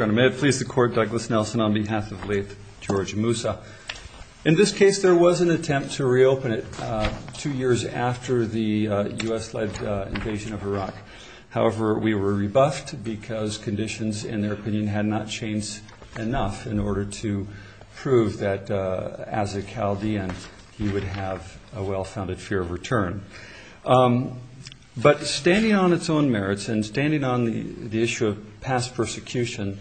May it please the Court, Douglas Nelson on behalf of late George Mousa. In this case there was an attempt to reopen it two years after the U.S.-led invasion of Iraq. However, we were rebuffed because conditions, in their opinion, had not changed enough in order to prove that as a Chaldean he would have a well-founded fear of return. But standing on its own merits and standing on the issue of past persecution,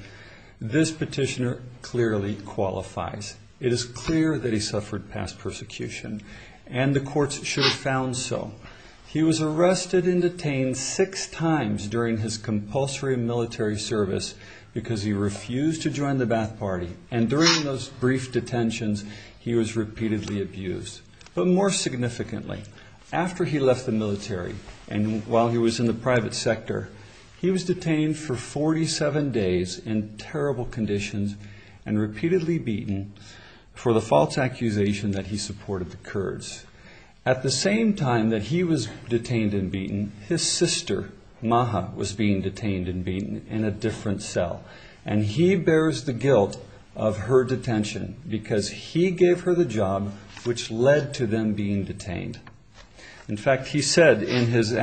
this petitioner clearly qualifies. It is clear that he suffered past persecution, and the courts should have found so. He was arrested and detained six times during his compulsory military service because he refused to join the Ba'ath Party, and during those brief detentions he was repeatedly abused. But more significantly, after he left the military and while he was in the private sector, he was detained for forty-seven days in terrible conditions and repeatedly beaten for the false accusation that he supported the Kurds. At the same time that he was detained and beaten, his sister, Maha, was being detained and beaten in a different cell, and he bears the guilt of her detention because he gave her the job which led to them being detained. In fact, he said in his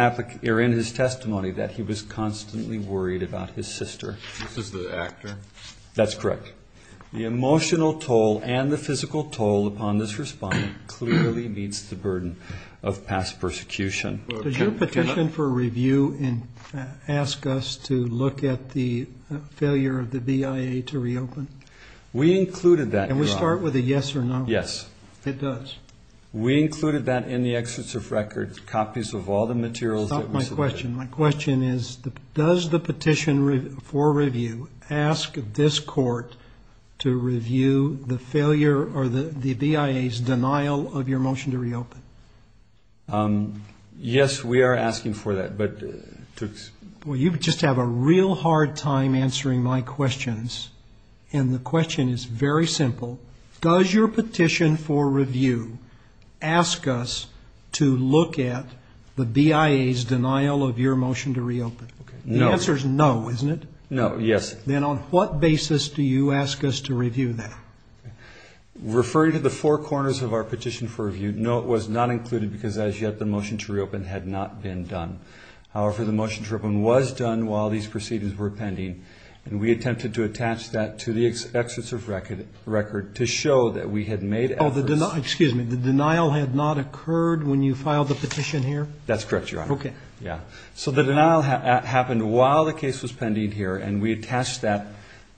testimony that he was constantly worried about his sister. This is the actor? That's correct. The emotional toll and the physical toll upon this respondent clearly meets the burden of past persecution. Does your petition for review ask us to look at the failure of the BIA to reopen? We included that. And we start with a yes or no? Yes. It does? We included that in the excerpts of record, copies of all the materials that we submitted. Stop my question. My question is, does the petition for review ask this court to review the failure or the BIA's denial of your motion to reopen? Yes, we are asking for that, but to... You just have a real hard time answering my questions, and the question is very simple. Does your petition for review ask us to look at the BIA's denial of your motion to reopen? The answer is no, isn't it? No, yes. Then on what basis do you ask us to review that? Referring to the four corners of our petition for review, no, it was not included because as yet the motion to reopen had not been done. However, the motion to reopen was done while these proceedings were pending, and we attempted to attach that to the excerpts of record to show that we had made efforts... Excuse me, the denial had not occurred when you filed the petition here? That's correct, Your Honor. So the denial happened while the case was pending here, and we attached that.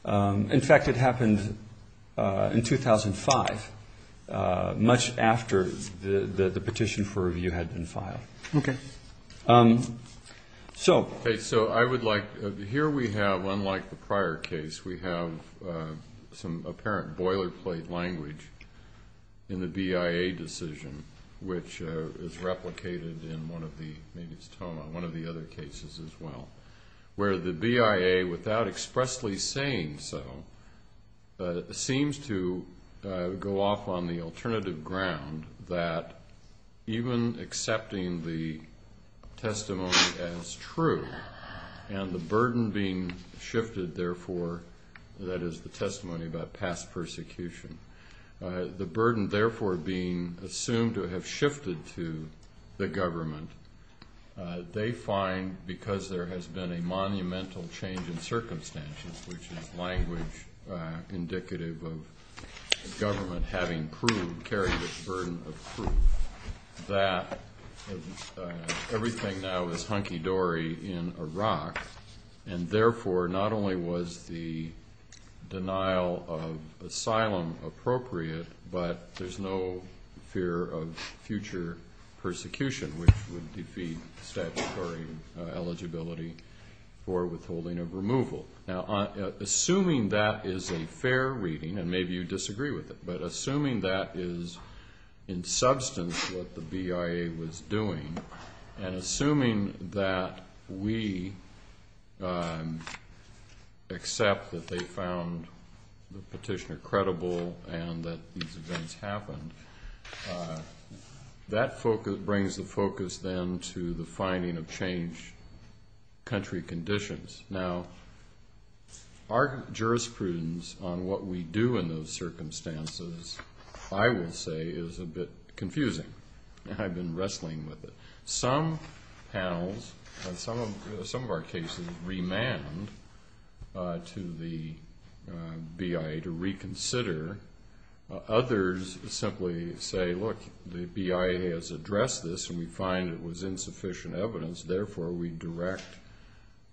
In fact, it happened in 2005, much after the petition for review. After you had been filed. Okay, so I would like... Here we have, unlike the prior case, we have some apparent boilerplate language in the BIA decision, which is replicated in one of the, maybe it's Toma, one of the other cases as well, where the BIA, without expressly saying so, seems to go off on the alternative ground that even accepting the testimony as true, and the burden being shifted, therefore, that is the testimony about past persecution, the burden therefore being assumed to have shifted to the government, they find because there has been a monumental change in circumstances, which is language indicative of government having carried the burden of proof that everything now is hunky-dory in Iraq, and therefore, not only was the denial of asylum appropriate, but there's no fear of future persecution, which would defeat statutory eligibility for withholding of removal. Now, assuming that is a fair reading, and maybe you disagree with it, but assuming that is in substance what the BIA was doing, and assuming that we accept that they found the petitioner credible, and that these events happened, that brings the focus then to the finding of changed country conditions. Now, our jurisprudence on what we do in those circumstances, I will say, is a bit confusing, and I've been wrestling with it. Some panels, and some of our cases, remand to the BIA to reconsider. Others simply say, look, the BIA has addressed this, and we find it was insufficient evidence, therefore, we direct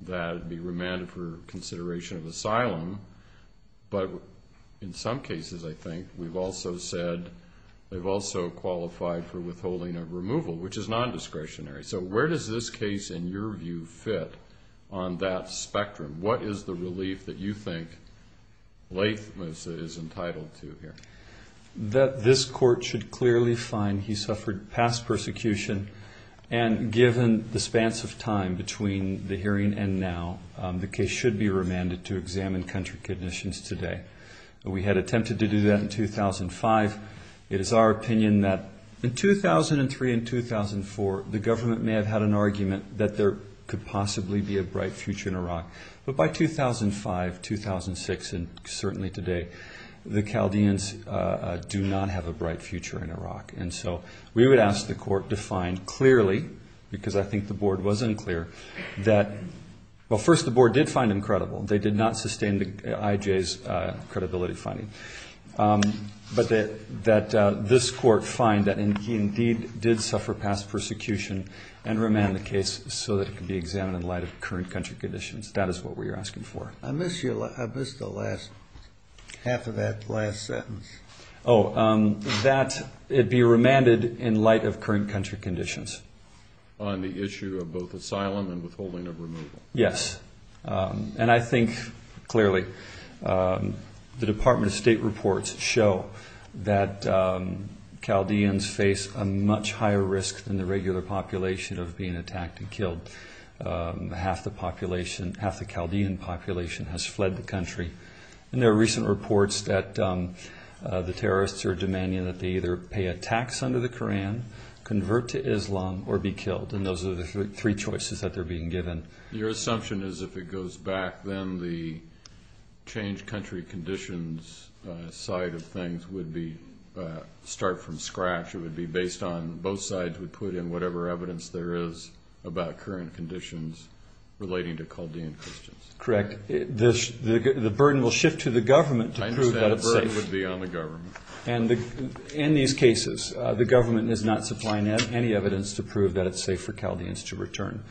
that it be remanded for consideration of asylum. But in some cases, I think, we've also said they've also qualified for withholding of removal, which is non-discretionary. So where does this case, in your view, fit on that spectrum? What is the relief that you think Laith Moosa is entitled to here? That this court should clearly find he suffered past persecution, and given the spans of time between the hearing and now, the case should be remanded to examine country conditions today. We had attempted to do that in 2005. It is our opinion that in 2003 and 2004, the government may have had an argument that there could possibly be a bright future in Iraq. But by 2005, 2006, and certainly today, the Chaldeans do not have a bright future in Iraq. And so we would ask the court to find clearly, because I think the board was unclear, that well, first, the board did find him credible. They did not sustain the IJ's credibility finding. But that this court find that he indeed did suffer past persecution and remand the case so that it could be examined in light of current country conditions. That is what we are asking for. I missed the last, half of that last sentence. Oh, that it be remanded in light of current country conditions. On the issue of both asylum and withholding of removal. Yes. And I think, clearly, the Department of State reports show that Chaldeans face a much higher risk than the regular population of being attacked and killed. Half the population, half the Chaldean population has fled the country. And there are recent reports that the terrorists are demanding that they either pay a tax under the Koran, convert to Islam, or be killed. And those are the three choices that they are being given. Your assumption is if it goes back, then the changed country conditions side of things would be, start from scratch. It would be based on both sides would put in whatever evidence there is about current conditions relating to Chaldean Christians. Correct. The burden will shift to the government to prove that it's safe. I understand the burden would be on the government. In these cases, the government is not supplying any evidence to prove that it's safe for Chaldeans to return.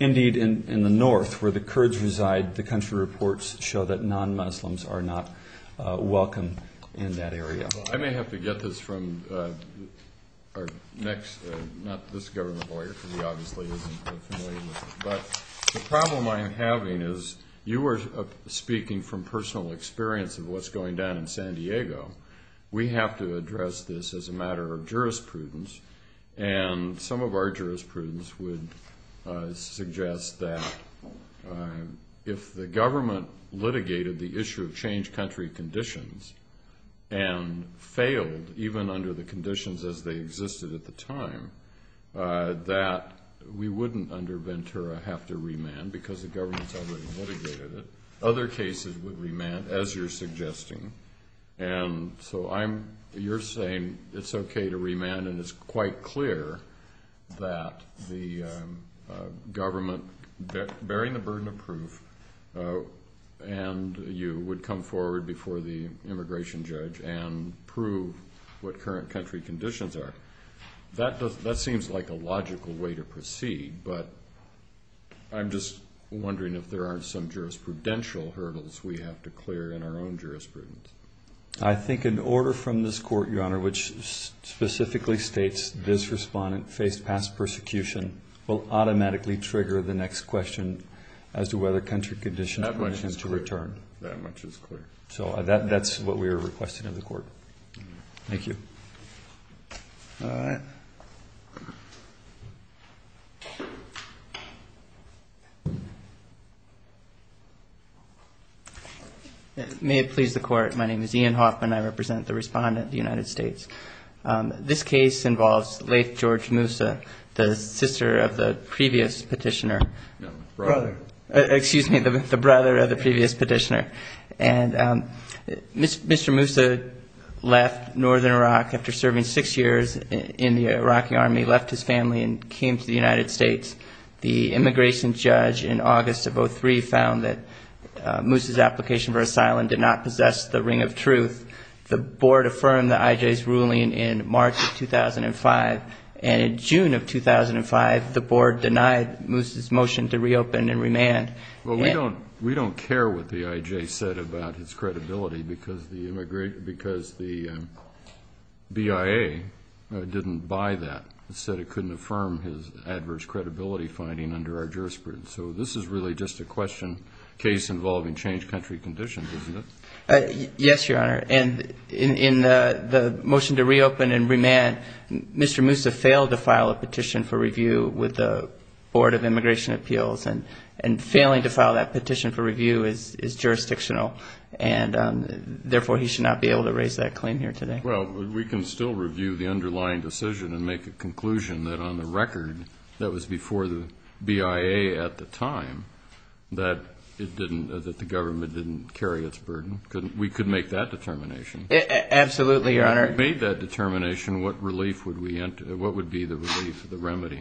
Indeed, in the north, where the Kurds reside, the country reports show that non-Muslims are not welcome in that area. I may have to get this from our next, not this government lawyer, because he obviously isn't familiar with this. But the problem I am having is, you were speaking from personal experience of what's going down in San Diego. We have to address this as a matter of jurisprudence. And some of our jurisprudence would suggest that if the government litigated the issue of changed country conditions and failed, even under the conditions as they existed at the time, that we wouldn't, under Ventura, have to remand because the government's already litigated it. Other cases would remand, as you're suggesting. And so I'm, you're saying it's okay to remand and it's quite clear that the government, bearing the burden of proof, and you would come forward before the immigration judge and prove what current country conditions are. That seems like a logical way to proceed, but I'm just wondering if there aren't some jurisprudential hurdles we have to clear in our own jurisprudence. I think an order from this court, Your Honor, which specifically states this respondent faced past persecution, will automatically trigger the next question as to whether country conditions are to return. That much is clear. So that's what we are requesting of the court. Thank you. All right. May it please the court. My name is Ian Hoffman. I represent the respondent of the United States. This case involves Lafe George Moussa, the sister of the previous petitioner. No, brother. Excuse me, the brother of the previous petitioner. And Mr. Moussa left northern Iraq after serving six years in the Iraqi army, left his family and came to the United States. The immigration judge in August of 2003 found that Moussa's application for asylum did not possess the ring of truth. The board affirmed the IJ's ruling in March of 2005, and in June of 2005 the board denied Moussa's motion to reopen and remand. Well, we don't care what the IJ said about his credibility because the BIA didn't buy that. It said it couldn't affirm his adverse credibility finding under our jurisprudence. So this is really just a question case involving changed country conditions, isn't it? Yes, Your Honor. And in the motion to reopen and remand, Mr. Moussa failed to file a petition for review with the Board of Immigration Appeals. And failing to file that petition for review is jurisdictional. And therefore, he should not be able to raise that claim here today. Well, we can still review the underlying decision and make a conclusion that on the record, that was before the BIA at the time, that it didn't, that the government didn't carry its burden. We could make that determination. Absolutely, Your Honor. If we made that determination, what relief would we, what would be the relief, the remedy?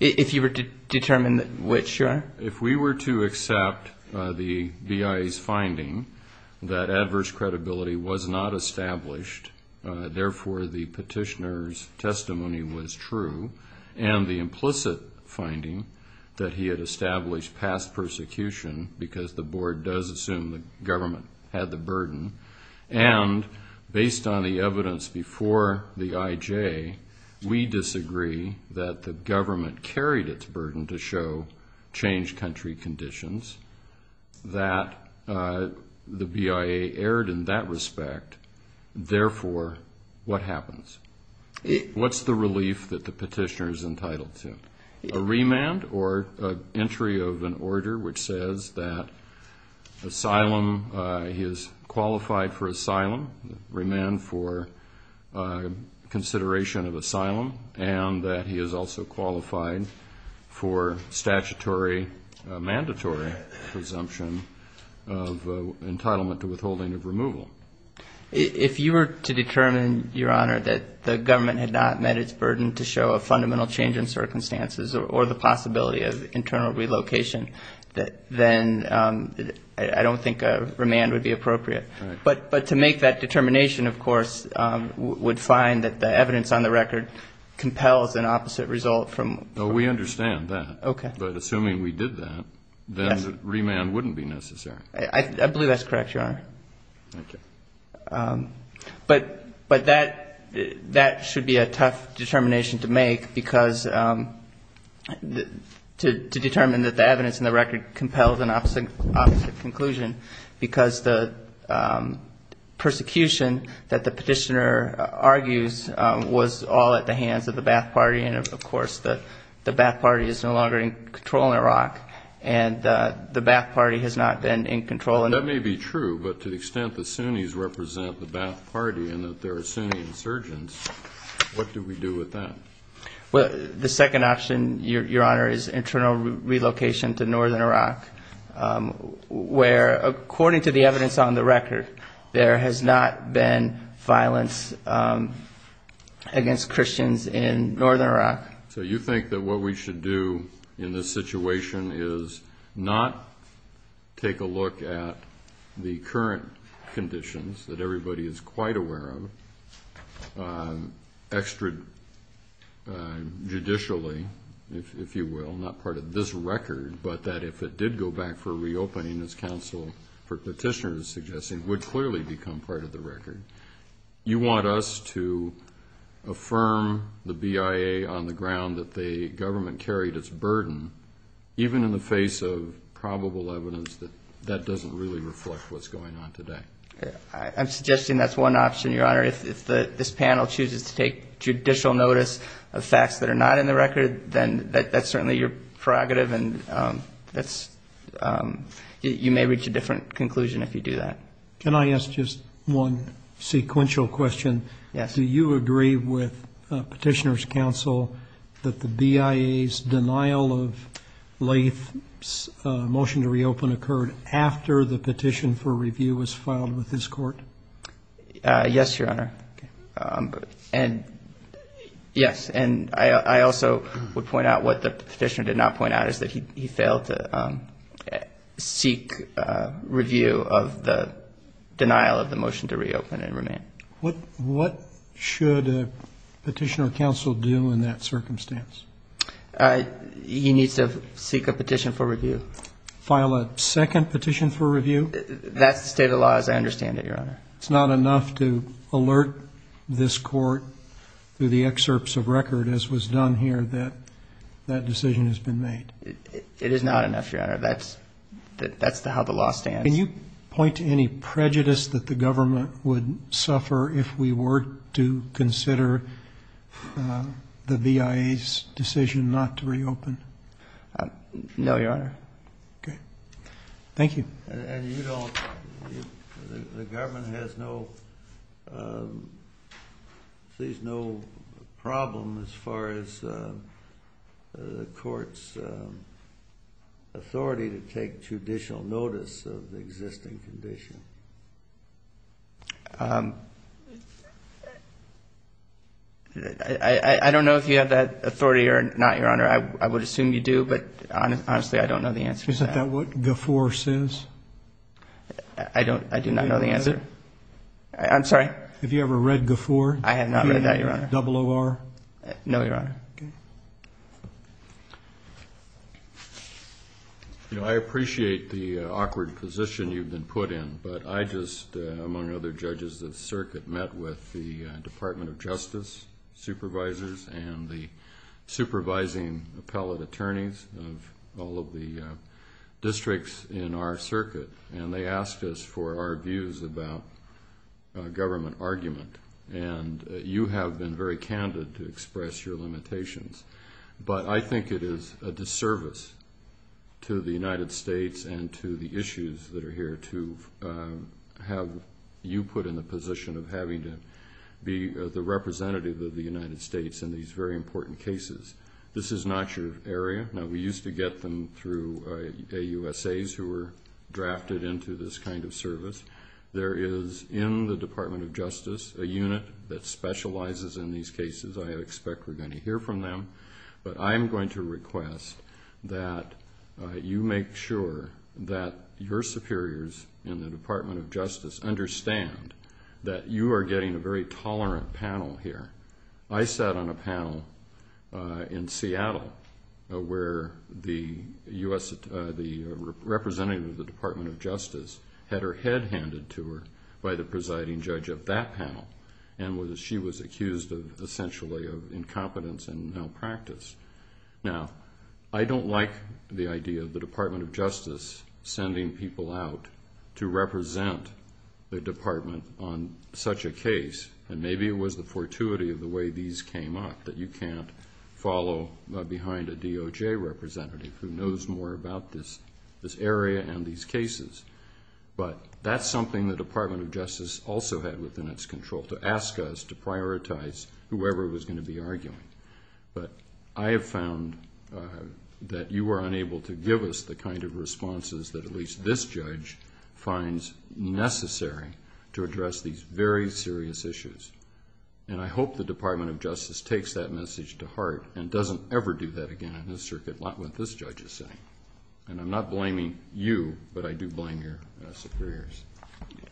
If you were to determine which, Your Honor? If we were to accept the BIA's finding that adverse credibility was not established, therefore, the petitioner's testimony was true, and the implicit finding that he had established past persecution because the board does assume the government had the burden, and based on the evidence before the IJ, we disagree that the government carried its burden to show changed country conditions, that the BIA erred in that respect. Therefore, what happens? What's the relief that the petitioner's entitled to? A remand or entry of an order which says that asylum, he is qualified for asylum, remand for consideration of asylum, and that he is also qualified for statutory, mandatory presumption of entitlement to withholding of removal. If you were to determine, Your Honor, that the government had not met its burden to show a fundamental change in circumstances or the possibility of internal relocation, then I don't think a remand would be appropriate. Right. But to make that determination, of course, would find that the evidence on the record compels an opposite result from the record. No, we understand that. Okay. But assuming we did that, then remand wouldn't be necessary. I believe that's correct, Your Honor. Okay. But that should be a tough determination to make because to determine that the evidence on the record compels an opposite conclusion because the persecution that the petitioner argues was all at the hands of the Ba'ath Party, and, of course, the Ba'ath Party is no longer in control in Iraq, and the Ba'ath Party has not been in control. That may be true, but to the extent the Sunnis represent the Ba'ath Party and that there are Sunni insurgents, what do we do with that? The second option, Your Honor, is internal relocation to northern Iraq where, according to the evidence on the record, there has not been violence against Christians in northern Iraq. So you think that what we should do in this situation is not take a look at the current conditions that everybody is quite aware of extrajudicially, if you will, not part of this record, but that if it did go back for reopening, as counsel for petitioners suggested, would clearly become part of the record. You want us to affirm the BIA on the ground that the government carried its burden, even in the face of probable evidence that that doesn't really reflect what's going on today. I'm suggesting that's one option, Your Honor. If this panel chooses to take judicial notice of facts that are not in the record, then that's certainly your prerogative, and you may reach a different conclusion if you do that. Can I ask just one sequential question? Yes. Do you agree with petitioners' counsel that the BIA's denial of Lathe's motion to reopen occurred after the petition for review was filed with his court? Yes, Your Honor. And, yes, and I also would point out what the petitioner did not point out, is that he failed to seek review of the denial of the motion to reopen and remain. What should a petitioner counsel do in that circumstance? He needs to seek a petition for review. File a second petition for review? That's the state of the law as I understand it, Your Honor. It's not enough to alert this court through the excerpts of record, as was done here, that that decision has been made? It is not enough, Your Honor. That's how the law stands. Can you point to any prejudice that the government would suffer if we were to consider the BIA's decision not to reopen? No, Your Honor. Okay. Thank you. And you don't, the government has no, sees no problem as far as the court's authority to take judicial notice of the existing condition? I don't know if you have that authority or not, Your Honor. I would assume you do, but, honestly, I don't know the answer to that. Is that what GAFOR says? I don't, I do not know the answer. Is it? I'm sorry? Have you ever read GAFOR? I have not read that, Your Honor. Double O-R? No, Your Honor. Okay. You know, I appreciate the awkward position you've been put in, but I just, among other judges of the circuit, met with the Department of Justice supervisors and the supervising appellate attorneys of all of the districts in our circuit, and they asked us for our views about government argument. And you have been very candid to express your limitations, but I think it is a disservice to the United States and to the issues that are here to have you put in the position of having to be the representative of the United States in these very important cases. This is not your area. Now, we used to get them through AUSAs who were drafted into this kind of service. There is, in the Department of Justice, a unit that specializes in these cases. I expect we're going to hear from them. But I'm going to request that you make sure that your superiors in the Department of Justice understand that you are getting a very tolerant panel here. I sat on a panel in Seattle where the representative of the Department of Justice had her head handed to her by the presiding judge of that panel, and she was accused, essentially, of incompetence and malpractice. Now, I don't like the idea of the Department of Justice sending people out to represent the department on such a case. And maybe it was the fortuity of the way these came up that you can't follow behind a DOJ representative who knows more about this area and these cases. But that's something the Department of Justice also had within its control, to ask us to prioritize whoever was going to be arguing. But I have found that you were unable to give us the kind of responses that at least this judge finds necessary to address these very serious issues. And I hope the Department of Justice takes that message to heart and doesn't ever do that again in this circuit, not what this judge is saying. And I'm not blaming you, but I do blame your superiors.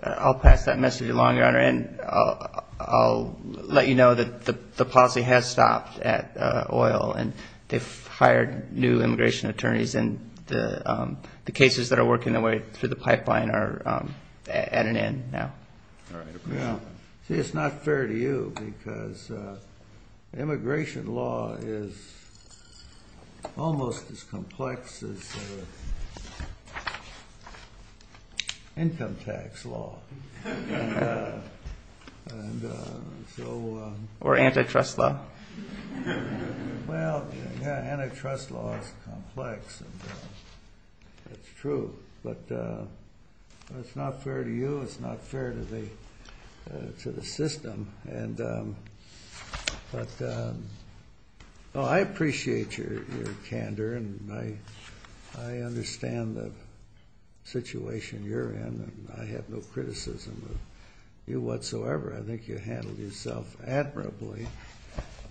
I'll pass that message along, Your Honor, and I'll let you know that the policy has stopped at oil, and they've hired new immigration attorneys, and the cases that are working their way through the pipeline are at an end now. It's not fair to you, because immigration law is almost as complex as income tax law. Or antitrust law. Well, antitrust law is complex, and that's true. But it's not fair to you, it's not fair to the system. I appreciate your candor, and I understand the situation you're in, and I have no criticism of you whatsoever. I think you handled yourself admirably,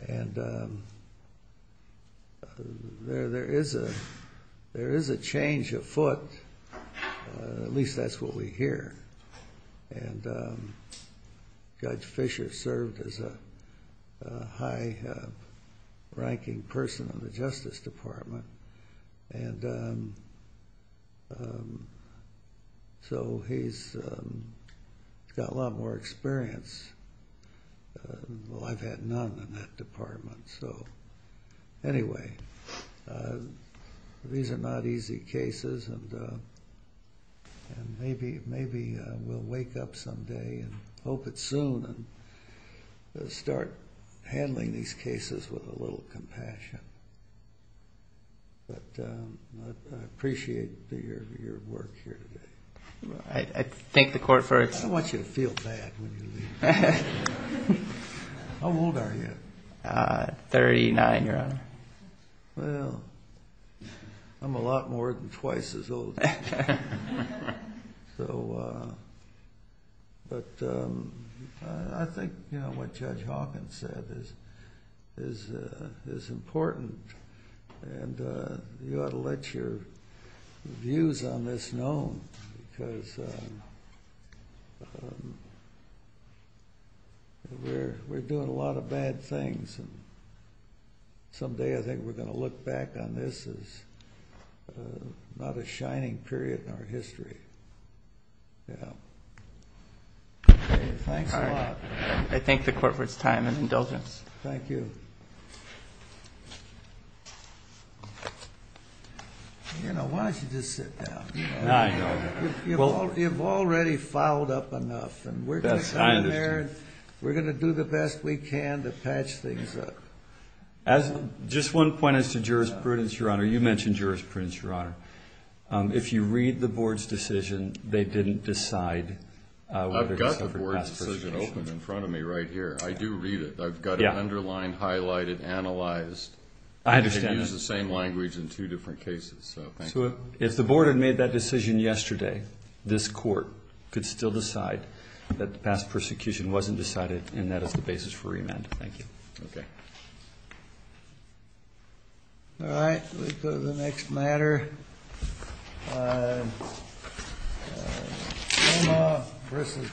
and there is a change afoot, at least that's what we hear. And Judge Fisher served as a high-ranking person in the Justice Department, and so he's got a lot more experience. Well, I've had none in that department. So, anyway, these are not easy cases, and maybe we'll wake up someday, and hope it's soon, and start handling these cases with a little compassion. But I appreciate your work here today. I thank the Court for its... I don't want you to feel bad when you leave. How old are you? Thirty-nine, Your Honor. So, but I think what Judge Hawkins said is important, and you ought to let your views on this known, because we're doing a lot of bad things, and someday I think we're going to look back on this as not a shining period in our history. Yeah. Thanks a lot. I thank the Court for its time and indulgence. Thank you. You know, why don't you just sit down? No, Your Honor. You've already fouled up enough, and we're going to come here, and we're going to do the best we can to patch things up. Just one point as to jurisprudence, Your Honor. You mentioned jurisprudence, Your Honor. If you read the Board's decision, they didn't decide whether to separate past persecution. I've got the Board's decision open in front of me right here. I do read it. I've got it underlined, highlighted, analyzed. I understand that. You can use the same language in two different cases. So, thank you. So, if the Board had made that decision yesterday, this Court could still decide that the past persecution wasn't decided, and that is the basis for remand. Thank you. Okay. All right. Let's go to the next matter. Oma v. Gonzales.